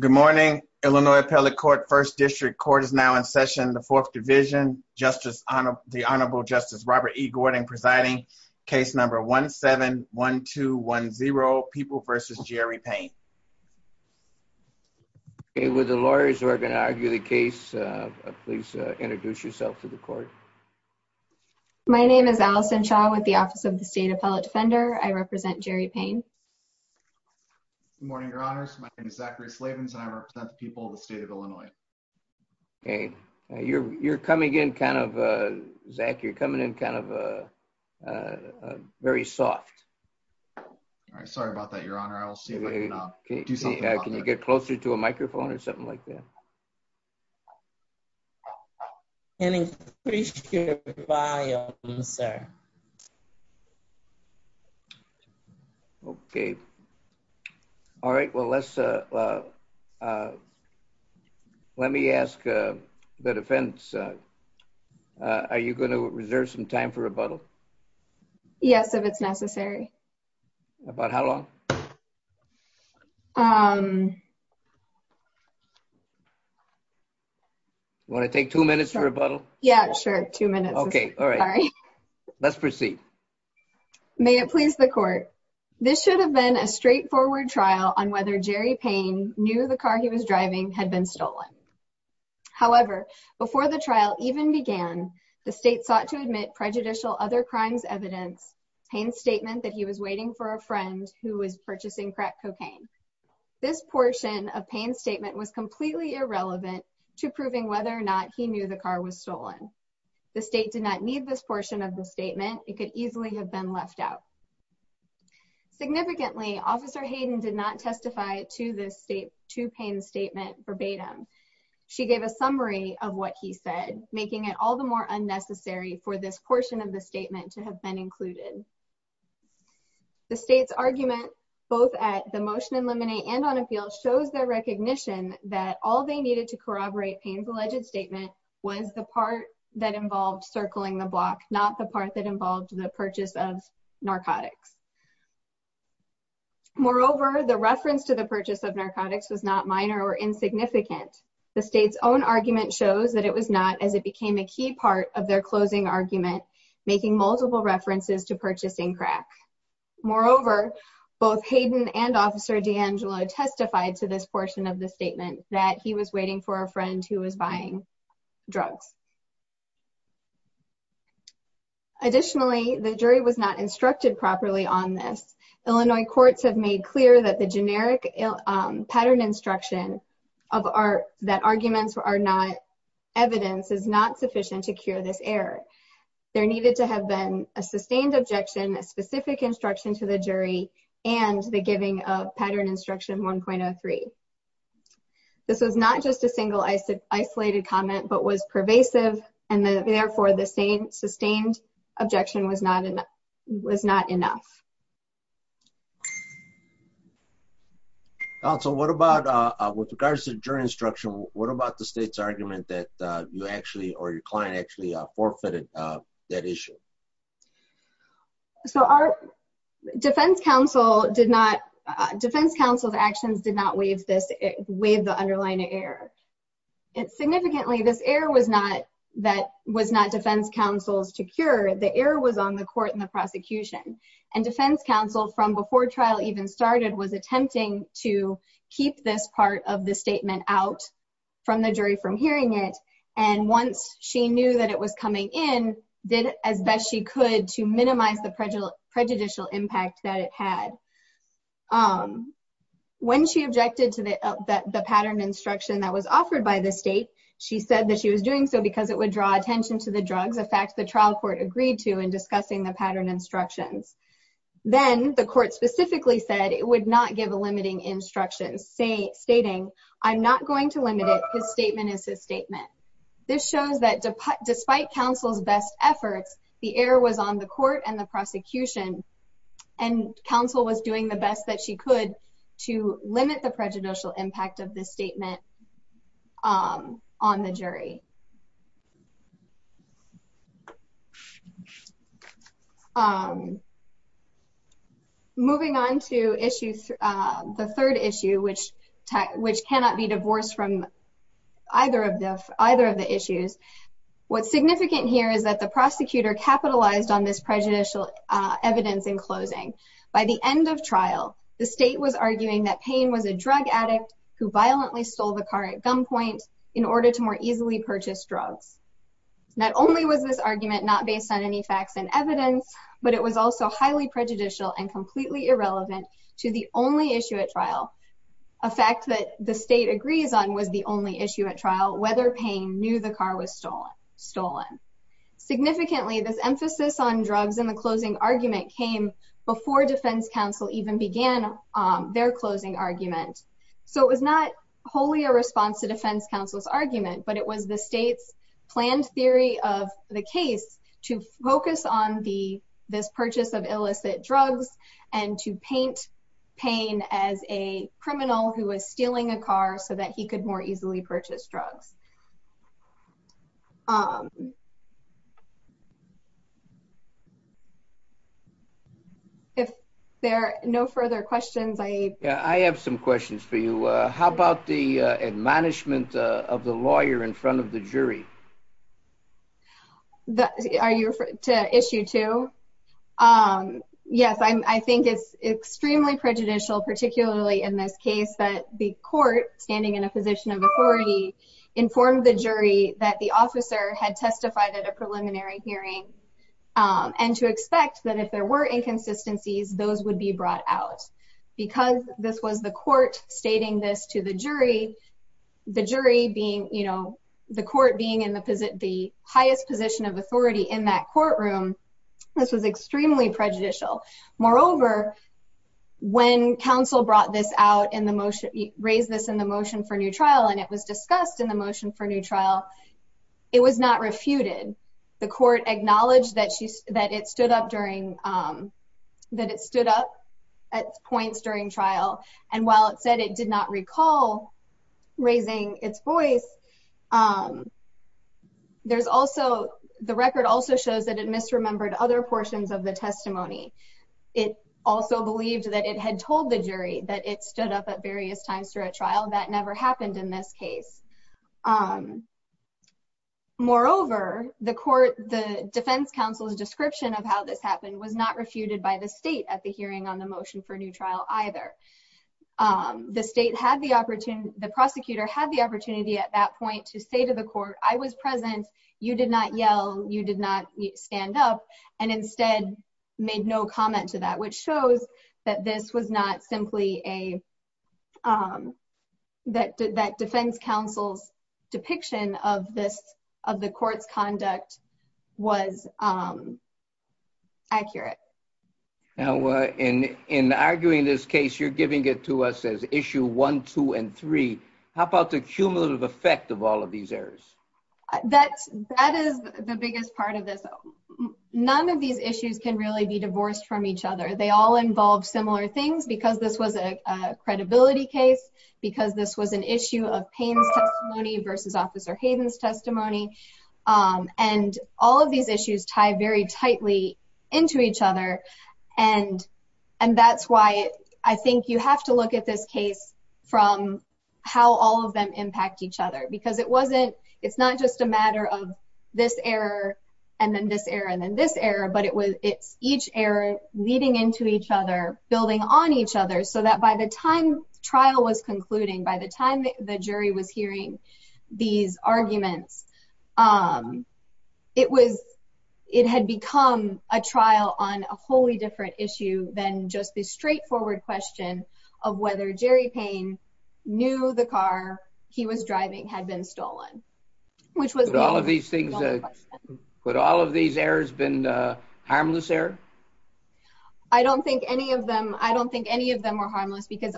Good morning. Illinois Appellate Court First District Court is now in session in the Fourth Division. The Honorable Justice Robert E. Gordon presiding. Case number 1-7-1-2-1-0, People v. Jerry Payne. Okay, would the lawyers who are going to argue the case please introduce yourself to the court. My name is Allison Shaw with the Office of the State Appellate Defender. I represent Jerry Payne. Good morning, Your Honors. My name is Zachary Slavens and I represent the people of the state of Illinois. Okay, you're coming in kind of, Zach, you're coming in kind of very soft. Sorry about that, Your Honor. I'll see if I can do something about that. Can you get closer to a microphone or something like that? Can increase your volume, sir. Okay. All right. Well, let's let me ask the defense. Are you going to reserve some time for rebuttal? Yes, if it's necessary. About how long? Um. Want to take two minutes for rebuttal? Yeah, sure. Two minutes. Okay. All right. Let's proceed. May it please the court. This should have been a straightforward trial on whether Jerry Payne knew the car he was driving had been stolen. However, before the trial even began, the state sought to admit prejudicial other crimes evidence. Payne's statement that he was waiting for a friend who was purchasing crack cocaine. This portion of Payne's statement was completely irrelevant to proving whether or not he knew the car was stolen. The state did not need this portion of the statement. It could easily have been left out. Significantly, Officer Hayden did not testify to the state to Payne's statement verbatim. She gave a summary of what he said, making it all the more unnecessary for this portion of the statement to have been included. The state's argument, both at the motion in limine and on appeal, shows their recognition that all they needed to corroborate Payne's alleged statement was the part that involved circling the block, not the part that involved the purchase of narcotics. Moreover, the reference to the purchase of narcotics was not minor or insignificant. The state's own argument shows that it was not, as it became a key part of their closing argument, making multiple references to purchasing crack. Moreover, both Hayden and Officer DeAngelo testified to this portion of the statement that he was waiting for a friend who was buying drugs. Additionally, the jury was not instructed properly on this. Illinois courts have made clear that the generic pattern instruction that arguments are not evidence is not sufficient to cure this error. There needed to have been a sustained objection, a specific instruction to the jury, and the giving of pattern instruction 1.03. This was not just a single isolated comment, but was pervasive, and therefore the sustained objection was not enough. Counsel, with regards to jury instruction, what about the state's argument that you actually, or your client actually, forfeited that issue? Our defense counsel's actions did not waive the underlying error. Significantly, this error was not defense counsel's to cure. The error was on the court and the prosecution. Defense counsel, from before trial even started, was attempting to keep this part of the statement out from the jury from hearing it. And once she knew that it was coming in, did as best she could to minimize the prejudicial impact that it had. When she objected to the pattern instruction that was offered by the state, she said that she was doing so because it would draw attention to the drugs. In fact, the trial court agreed to in discussing the pattern instructions. Then, the court specifically said it would not give a limiting instruction, stating, I'm not going to limit it. This statement is his statement. This shows that despite counsel's best efforts, the error was on the court and the prosecution, and counsel was doing the best that she could to limit the prejudicial impact of this statement on the jury. Moving on to the third issue, which cannot be divorced from either of the issues. What's significant here is that the prosecutor capitalized on this prejudicial evidence in closing. By the end of trial, the state was arguing that Payne was a drug addict who violently stole the car at gunpoint in order to more easily purchase drugs. Not only was this argument not based on any facts and evidence, but it was also highly prejudicial and completely irrelevant to the only issue at trial. A fact that the state agrees on was the only issue at trial, whether Payne knew the car was stolen. Significantly, this emphasis on drugs in the closing argument came before defense counsel even began their closing argument. So it was not wholly a response to defense counsel's argument, but it was the state's planned theory of the case to focus on this purchase of illicit drugs and to paint Payne as a criminal who was stealing a car so that he could more easily purchase drugs. If there are no further questions, I... How about the admonishment of the lawyer in front of the jury? Are you referring to issue two? Yes, I think it's extremely prejudicial, particularly in this case, that the court, standing in a position of authority, informed the jury that the officer had testified at a preliminary hearing and to expect that if there were inconsistencies, those would be brought out. Because this was the court stating this to the jury, the court being in the highest position of authority in that courtroom, this was extremely prejudicial. Moreover, when counsel raised this in the motion for new trial and it was discussed in the motion for new trial, it was not refuted. The court acknowledged that it stood up at points during trial. And while it said it did not recall raising its voice, there's also... The record also shows that it misremembered other portions of the testimony. It also believed that it had told the jury that it stood up at various times through a trial. That never happened in this case. Moreover, the defense counsel's description of how this happened was not refuted by the state at the hearing on the motion for new trial either. The prosecutor had the opportunity at that point to say to the court, I was present. You did not yell. You did not stand up. And instead made no comment to that, which shows that this was not simply a... That defense counsel's depiction of the court's conduct was accurate. Now, in arguing this case, you're giving it to us as issue one, two, and three. How about the cumulative effect of all of these errors? That is the biggest part of this. None of these issues can really be divorced from each other. They all involve similar things because this was a credibility case, because this was an issue of Payne's testimony versus Officer Hayden's testimony. And all of these issues tie very tightly into each other. And that's why I think you have to look at this case from how all of them impact each other. Because it wasn't... It's not just a matter of this error and then this error and then this error. But it's each error leading into each other, building on each other, so that by the time trial was concluding, by the time the jury was hearing these arguments, it had become a trial on a wholly different issue than just the straightforward question of whether Jerry Payne knew the car he was driving, had been stolen, which was... But all of these things... But all of these errors been harmless error? I don't think any of them... I don't think any of them were harmless because,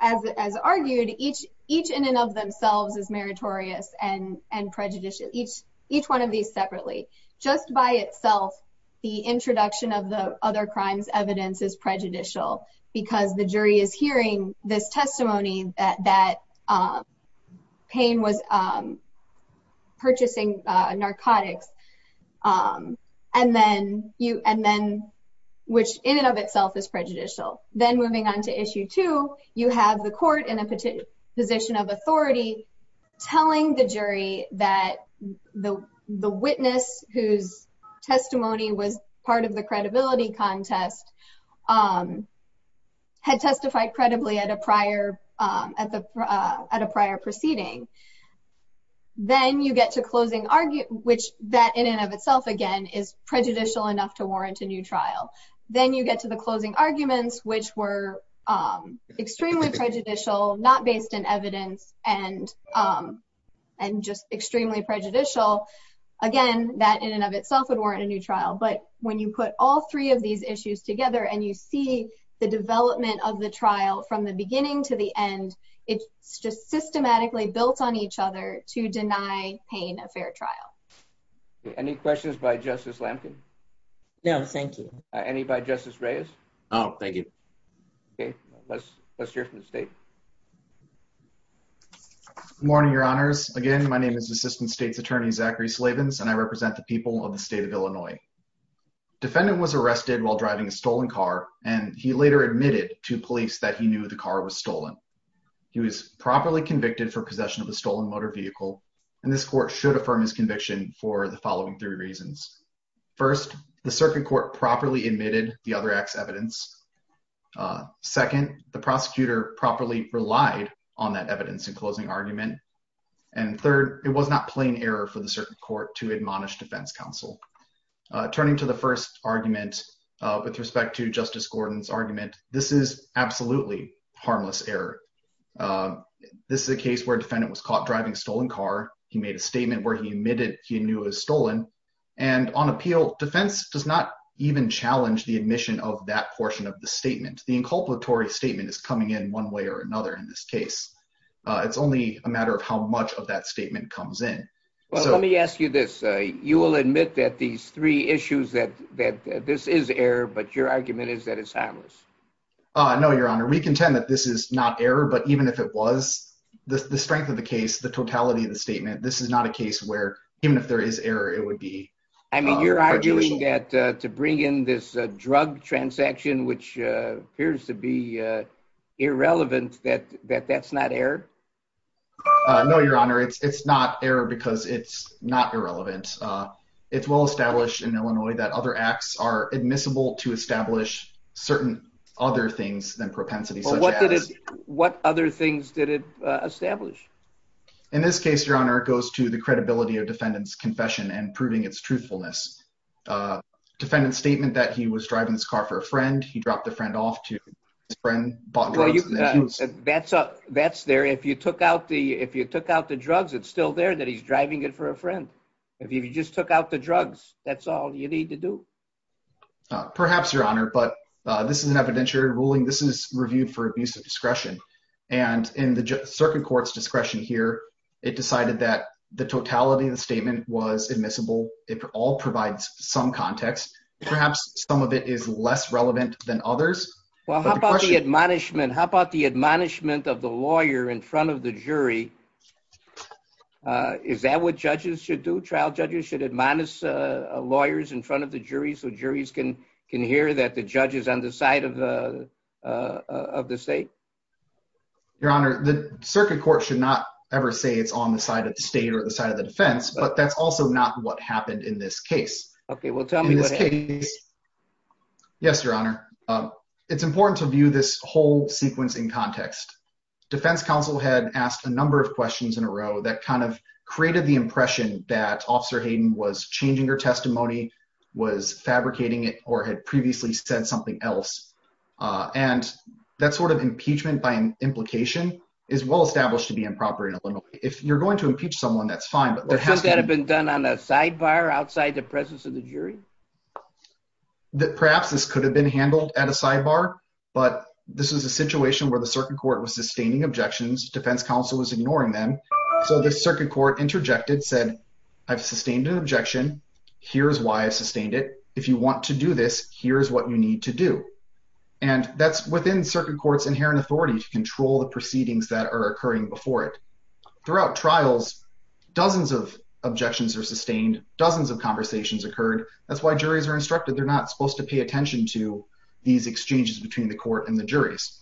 as argued, each in and of themselves is meritorious and prejudicial, each one of these separately. Just by itself, the introduction of the other crimes evidence is prejudicial because the jury is hearing this testimony that Payne was purchasing narcotics, and then... Which in and of itself is prejudicial. Then moving on to issue two, you have the court in a position of authority telling the jury that the witness whose testimony was part of the credibility contest had testified credibly at a prior proceeding. Then you get to closing... Which that in and of itself, again, is prejudicial enough to warrant a new trial. Then you get to the closing arguments, which were extremely prejudicial, not based in evidence, and just extremely prejudicial. Again, that in and of itself would warrant a new trial. But when you put all three of these issues together and you see the development of the trial from the beginning to the end, it's just systematically built on each other to deny Payne a fair trial. Any questions by Justice Lamkin? No, thank you. Any by Justice Reyes? No, thank you. Okay, let's hear from the state. Good morning, your honors. Again, my name is Assistant State's Attorney Zachary Slavins, and I represent the people of the state of Illinois. Defendant was arrested while driving a stolen car, and he later admitted to police that he knew the car was stolen. He was properly convicted for possession of a stolen motor vehicle, and this court should affirm his conviction for the following three reasons. First, the circuit court properly admitted the other act's evidence. Second, the prosecutor properly relied on that evidence in closing argument. And third, it was not plain error for the circuit court to admonish defense counsel. Turning to the first argument with respect to Justice Gordon's argument, this is absolutely harmless error. This is a case where a defendant was caught driving a stolen car. He made a statement where he admitted he knew it was stolen. And on appeal, defense does not even challenge the admission of that portion of the statement. The inculpatory statement is coming in one way or another in this case. It's only a matter of how much of that statement comes in. Well, let me ask you this. You will admit that these three issues, that this is error, but your argument is that it's harmless? No, your honor. We contend that this is not error, but even if it was, the strength of the case, the totality of the statement, this is not a case where even if there is error, it would be. I mean, you're arguing that to bring in this drug transaction, which appears to be irrelevant, that that's not error? No, your honor. It's not error because it's not irrelevant. It's well established in Illinois that other acts are admissible to establish certain other things than propensity. What other things did it establish? In this case, your honor, it goes to the credibility of defendant's confession and proving its truthfulness. Defendant's statement that he was driving his car for a friend, he dropped the friend off to his friend, bought drugs. That's there. If you took out the drugs, it's still there that he's driving it for a friend. If you just took out the drugs, that's all you need to do. Perhaps, your honor, but this is an evidentiary ruling. This is reviewed for abuse of discretion. And in the circuit court's discretion here, it decided that the totality of the statement was admissible. It all provides some context. Perhaps some of it is less relevant than others. Well, how about the admonishment? How about the admonishment of the lawyer in front of the jury? Is that what judges should do? Trial judges should admonish lawyers in front of the jury so juries can hear that the judge is on the side of the state? Your honor, the circuit court should not ever say it's on the side of the state or the side of the defense. But that's also not what happened in this case. Okay, well tell me what happened. Yes, your honor. It's important to view this whole sequence in context. Defense counsel had asked a number of questions in a row that kind of created the impression that Officer Hayden was changing her testimony, was fabricating it, or had previously said something else. And that sort of impeachment by implication is well established to be improper. If you're going to impeach someone, that's fine. Could that have been done on a sidebar outside the presence of the jury? Perhaps this could have been handled at a sidebar, but this was a situation where the circuit court was sustaining objections, defense counsel was ignoring them. So the circuit court interjected, said, I've sustained an objection. Here's why I sustained it. If you want to do this, here's what you need to do. And that's within circuit court's inherent authority to control the proceedings that are occurring before it. Throughout trials, dozens of objections are sustained, dozens of conversations occurred. That's why juries are instructed they're not supposed to pay attention to these exchanges between the court and the juries.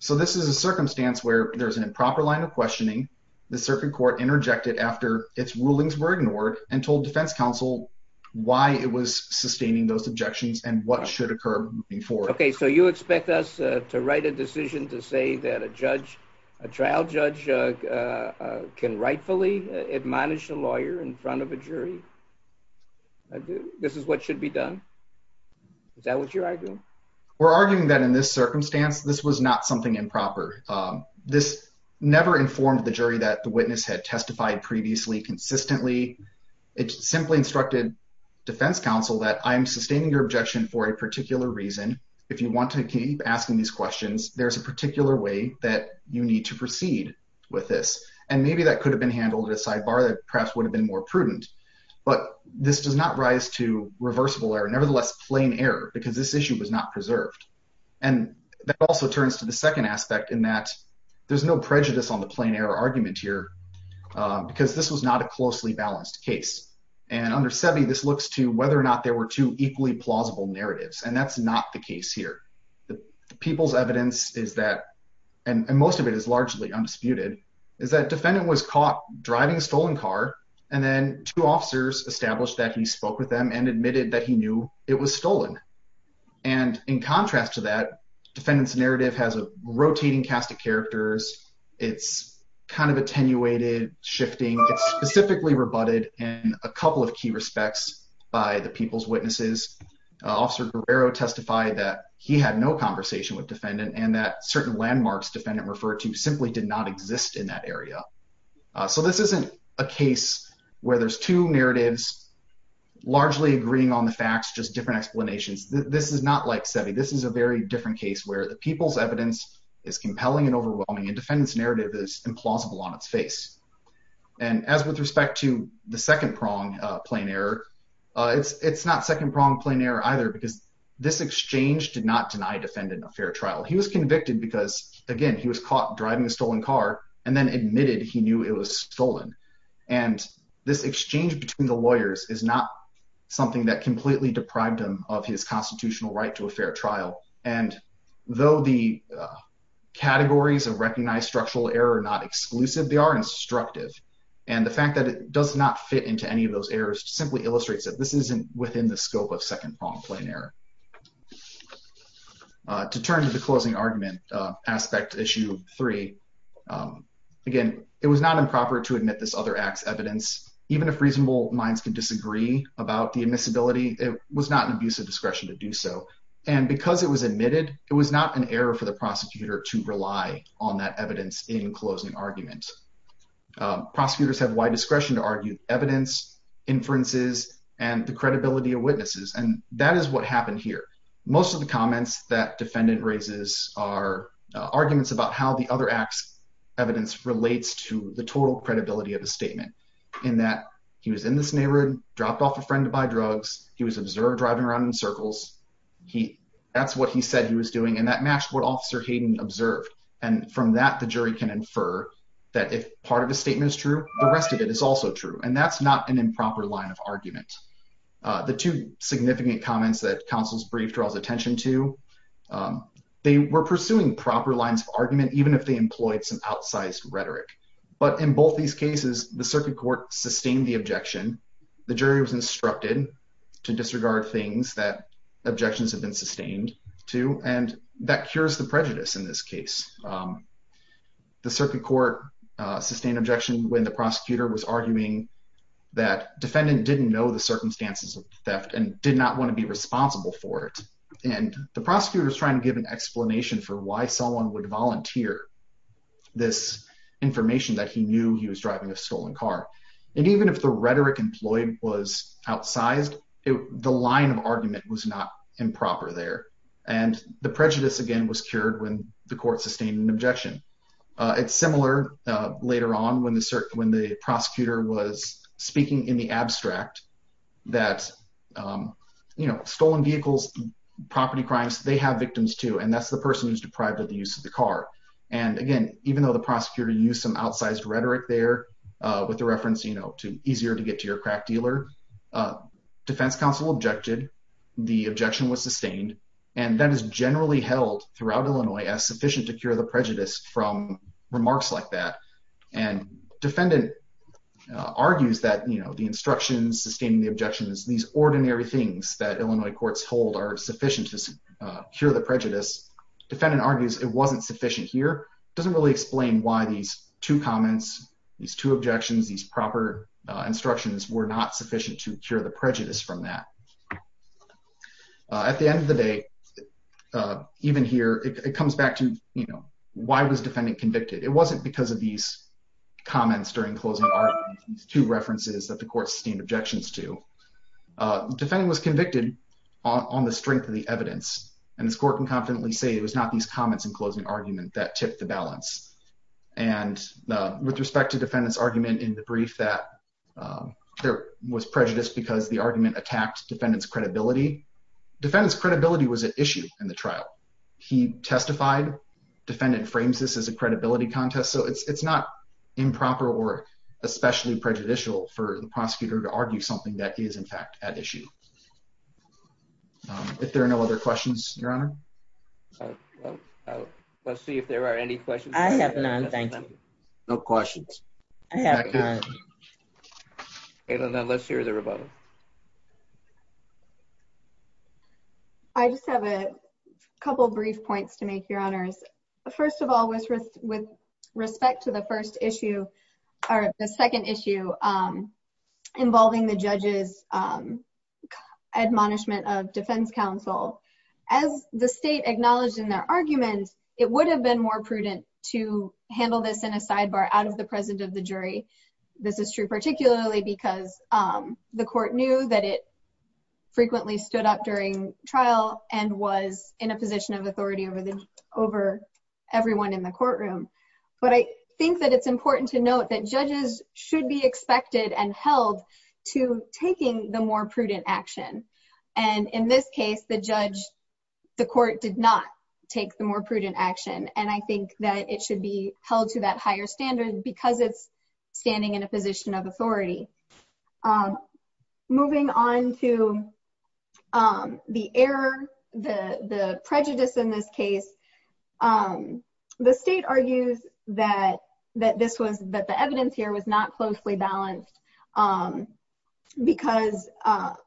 So this is a circumstance where there's an improper line of questioning. The circuit court interjected after its rulings were ignored and told defense counsel why it was sustaining those objections and what should occur moving forward. OK, so you expect us to write a decision to say that a judge, a trial judge can rightfully admonish a lawyer in front of a jury? This is what should be done? Is that what you're arguing? We're arguing that in this circumstance, this was not something improper. This never informed the jury that the witness had testified previously consistently. It simply instructed defense counsel that I'm sustaining your objection for a particular reason. If you want to keep asking these questions, there's a particular way that you need to proceed with this. And maybe that could have been handled at a sidebar that perhaps would have been more prudent. But this does not rise to reversible error, nevertheless, plain error, because this issue was not preserved. And that also turns to the second aspect in that there's no prejudice on the plain error argument here because this was not a closely balanced case. And under SEBI, this looks to whether or not there were two equally plausible narratives. And that's not the case here. The people's evidence is that and most of it is largely undisputed, is that defendant was caught driving a stolen car. And then two officers established that he spoke with them and admitted that he knew it was stolen. And in contrast to that, defendant's narrative has a rotating cast of characters. It's kind of attenuated, shifting. It's specifically rebutted in a couple of key respects by the people's witnesses. Officer Guerrero testified that he had no conversation with defendant and that certain landmarks defendant referred to simply did not exist in that area. So this isn't a case where there's two narratives largely agreeing on the facts, just different explanations. This is not like SEBI. This is a very different case where the people's evidence is compelling and overwhelming and defendant's narrative is implausible on its face. And as with respect to the second prong plain error, it's not second prong plain error either because this exchange did not deny defendant a fair trial. He was convicted because, again, he was caught driving a stolen car and then admitted he knew it was stolen. And this exchange between the lawyers is not something that completely deprived him of his constitutional right to a fair trial. And though the categories of recognized structural error are not exclusive, they are instructive. And the fact that it does not fit into any of those errors simply illustrates that this isn't within the scope of second prong plain error. To turn to the closing argument aspect issue three, again, it was not improper to admit this other act's evidence. Even if reasonable minds can disagree about the admissibility, it was not an abuse of discretion to do so. And because it was admitted, it was not an error for the prosecutor to rely on that evidence in closing argument. Prosecutors have wide discretion to argue evidence, inferences, and the credibility of witnesses. And that is what happened here. Most of the comments that defendant raises are arguments about how the other act's evidence relates to the total credibility of the statement. In that he was in this neighborhood, dropped off a friend to buy drugs. He was observed driving around in circles. That's what he said he was doing. And that matched what Officer Hayden observed. And from that, the jury can infer that if part of the statement is true, the rest of it is also true. And that's not an improper line of argument. The two significant comments that counsel's brief draws attention to, they were pursuing proper lines of argument, even if they employed some outsized rhetoric. But in both these cases, the circuit court sustained the objection. The jury was instructed to disregard things that objections have been sustained to. And that cures the prejudice in this case. The circuit court sustained objection when the prosecutor was arguing that defendant didn't know the circumstances of theft and did not want to be responsible for it. And the prosecutor was trying to give an explanation for why someone would volunteer this information that he knew he was driving a stolen car. And even if the rhetoric employed was outsized, the line of argument was not improper there. And the prejudice, again, was cured when the court sustained an objection. It's similar later on when the prosecutor was speaking in the abstract that, you know, stolen vehicles, property crimes, they have victims, too. And that's the person who's deprived of the use of the car. And, again, even though the prosecutor used some outsized rhetoric there with the reference, you know, to easier to get to your crack dealer, defense counsel objected. The objection was sustained. And that is generally held throughout Illinois as sufficient to cure the prejudice from remarks like that. And defendant argues that, you know, the instructions sustaining the objections, these ordinary things that Illinois courts hold are sufficient to cure the prejudice. Defendant argues it wasn't sufficient here. It doesn't really explain why these two comments, these two objections, these proper instructions were not sufficient to cure the prejudice from that. At the end of the day, even here, it comes back to, you know, why was defendant convicted? It wasn't because of these comments during closing arguments, these two references that the court sustained objections to. Defendant was convicted on the strength of the evidence. And the court can confidently say it was not these comments in closing argument that tipped the balance. And with respect to defendant's argument in the brief that there was prejudice because the argument attacked defendant's credibility, defendant's credibility was an issue in the trial. He testified. Defendant frames this as a credibility contest. So it's not improper or especially prejudicial for the prosecutor to argue something that is, in fact, at issue. If there are no other questions, Your Honor. Let's see if there are any questions. I have none, thank you. No questions. I have none. Let's hear the rebuttal. I just have a couple of brief points to make, Your Honors. First of all, with respect to the first issue, or the second issue involving the judge's admonishment of defense counsel, as the state acknowledged in their argument, it would have been more prudent to handle this in a sidebar out of the presence of the jury. This is true particularly because the court knew that it frequently stood up during trial and was in a position of authority over everyone in the courtroom. But I think that it's important to note that judges should be expected and held to taking the more prudent action. And in this case, the judge, the court did not take the more prudent action. And I think that it should be held to that higher standard because it's standing in a position of authority. Moving on to the error, the prejudice in this case, the state argues that the evidence here was not closely balanced because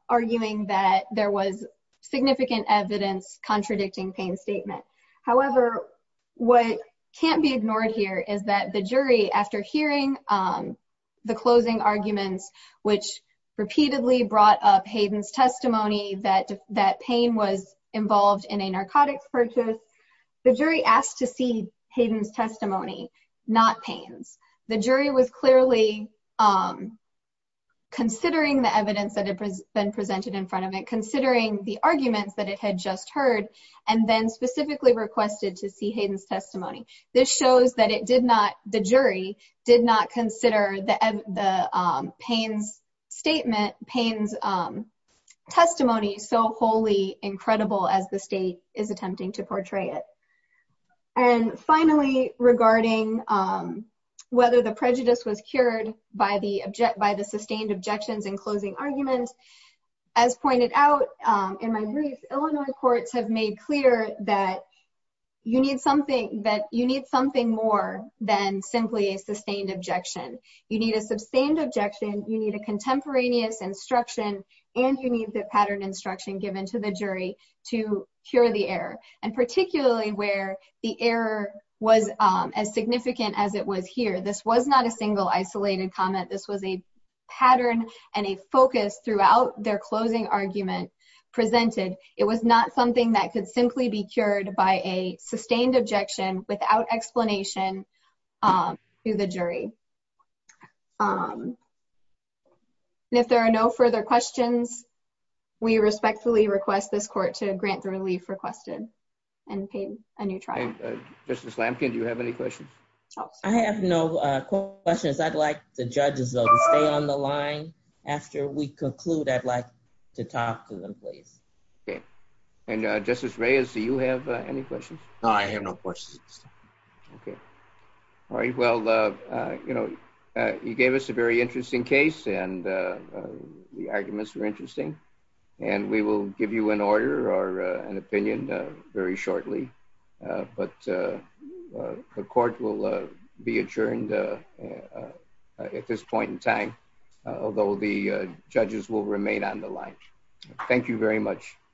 arguing that there was significant evidence contradicting Payne's statement. However, what can't be ignored here is that the jury, after hearing the closing arguments, which repeatedly brought up Hayden's testimony that Payne was involved in a narcotics purchase, the jury asked to see Hayden's testimony, not Payne's. The jury was clearly considering the evidence that had been presented in front of it, considering the arguments that it had just heard, and then specifically requested to see Hayden's testimony. This shows that it did not, the jury did not consider the Payne's statement, Payne's testimony so wholly incredible as the state is attempting to portray it. And finally, regarding whether the prejudice was cured by the sustained objections in closing arguments, as pointed out in my brief, Illinois courts have made clear that you need something more than simply a sustained objection. You need a sustained objection, you need a contemporaneous instruction, and you need the pattern instruction given to the jury to cure the error. And particularly where the error was as significant as it was here, this was not a single isolated comment, this was a pattern and a focus throughout their closing argument presented. It was not something that could simply be cured by a sustained objection without explanation to the jury. If there are no further questions, we respectfully request this court to grant the relief requested and pay a new trial. Justice Lampkin, do you have any questions? I have no questions. I'd like the judges to stay on the line. After we conclude, I'd like to talk to them, please. Okay. And Justice Reyes, do you have any questions? No, I have no questions. Okay. All right. Well, you know, you gave us a very interesting case and the arguments were interesting, and we will give you an order or an opinion very shortly. But the court will be adjourned at this point in time, although the judges will remain on the line. Thank you very much.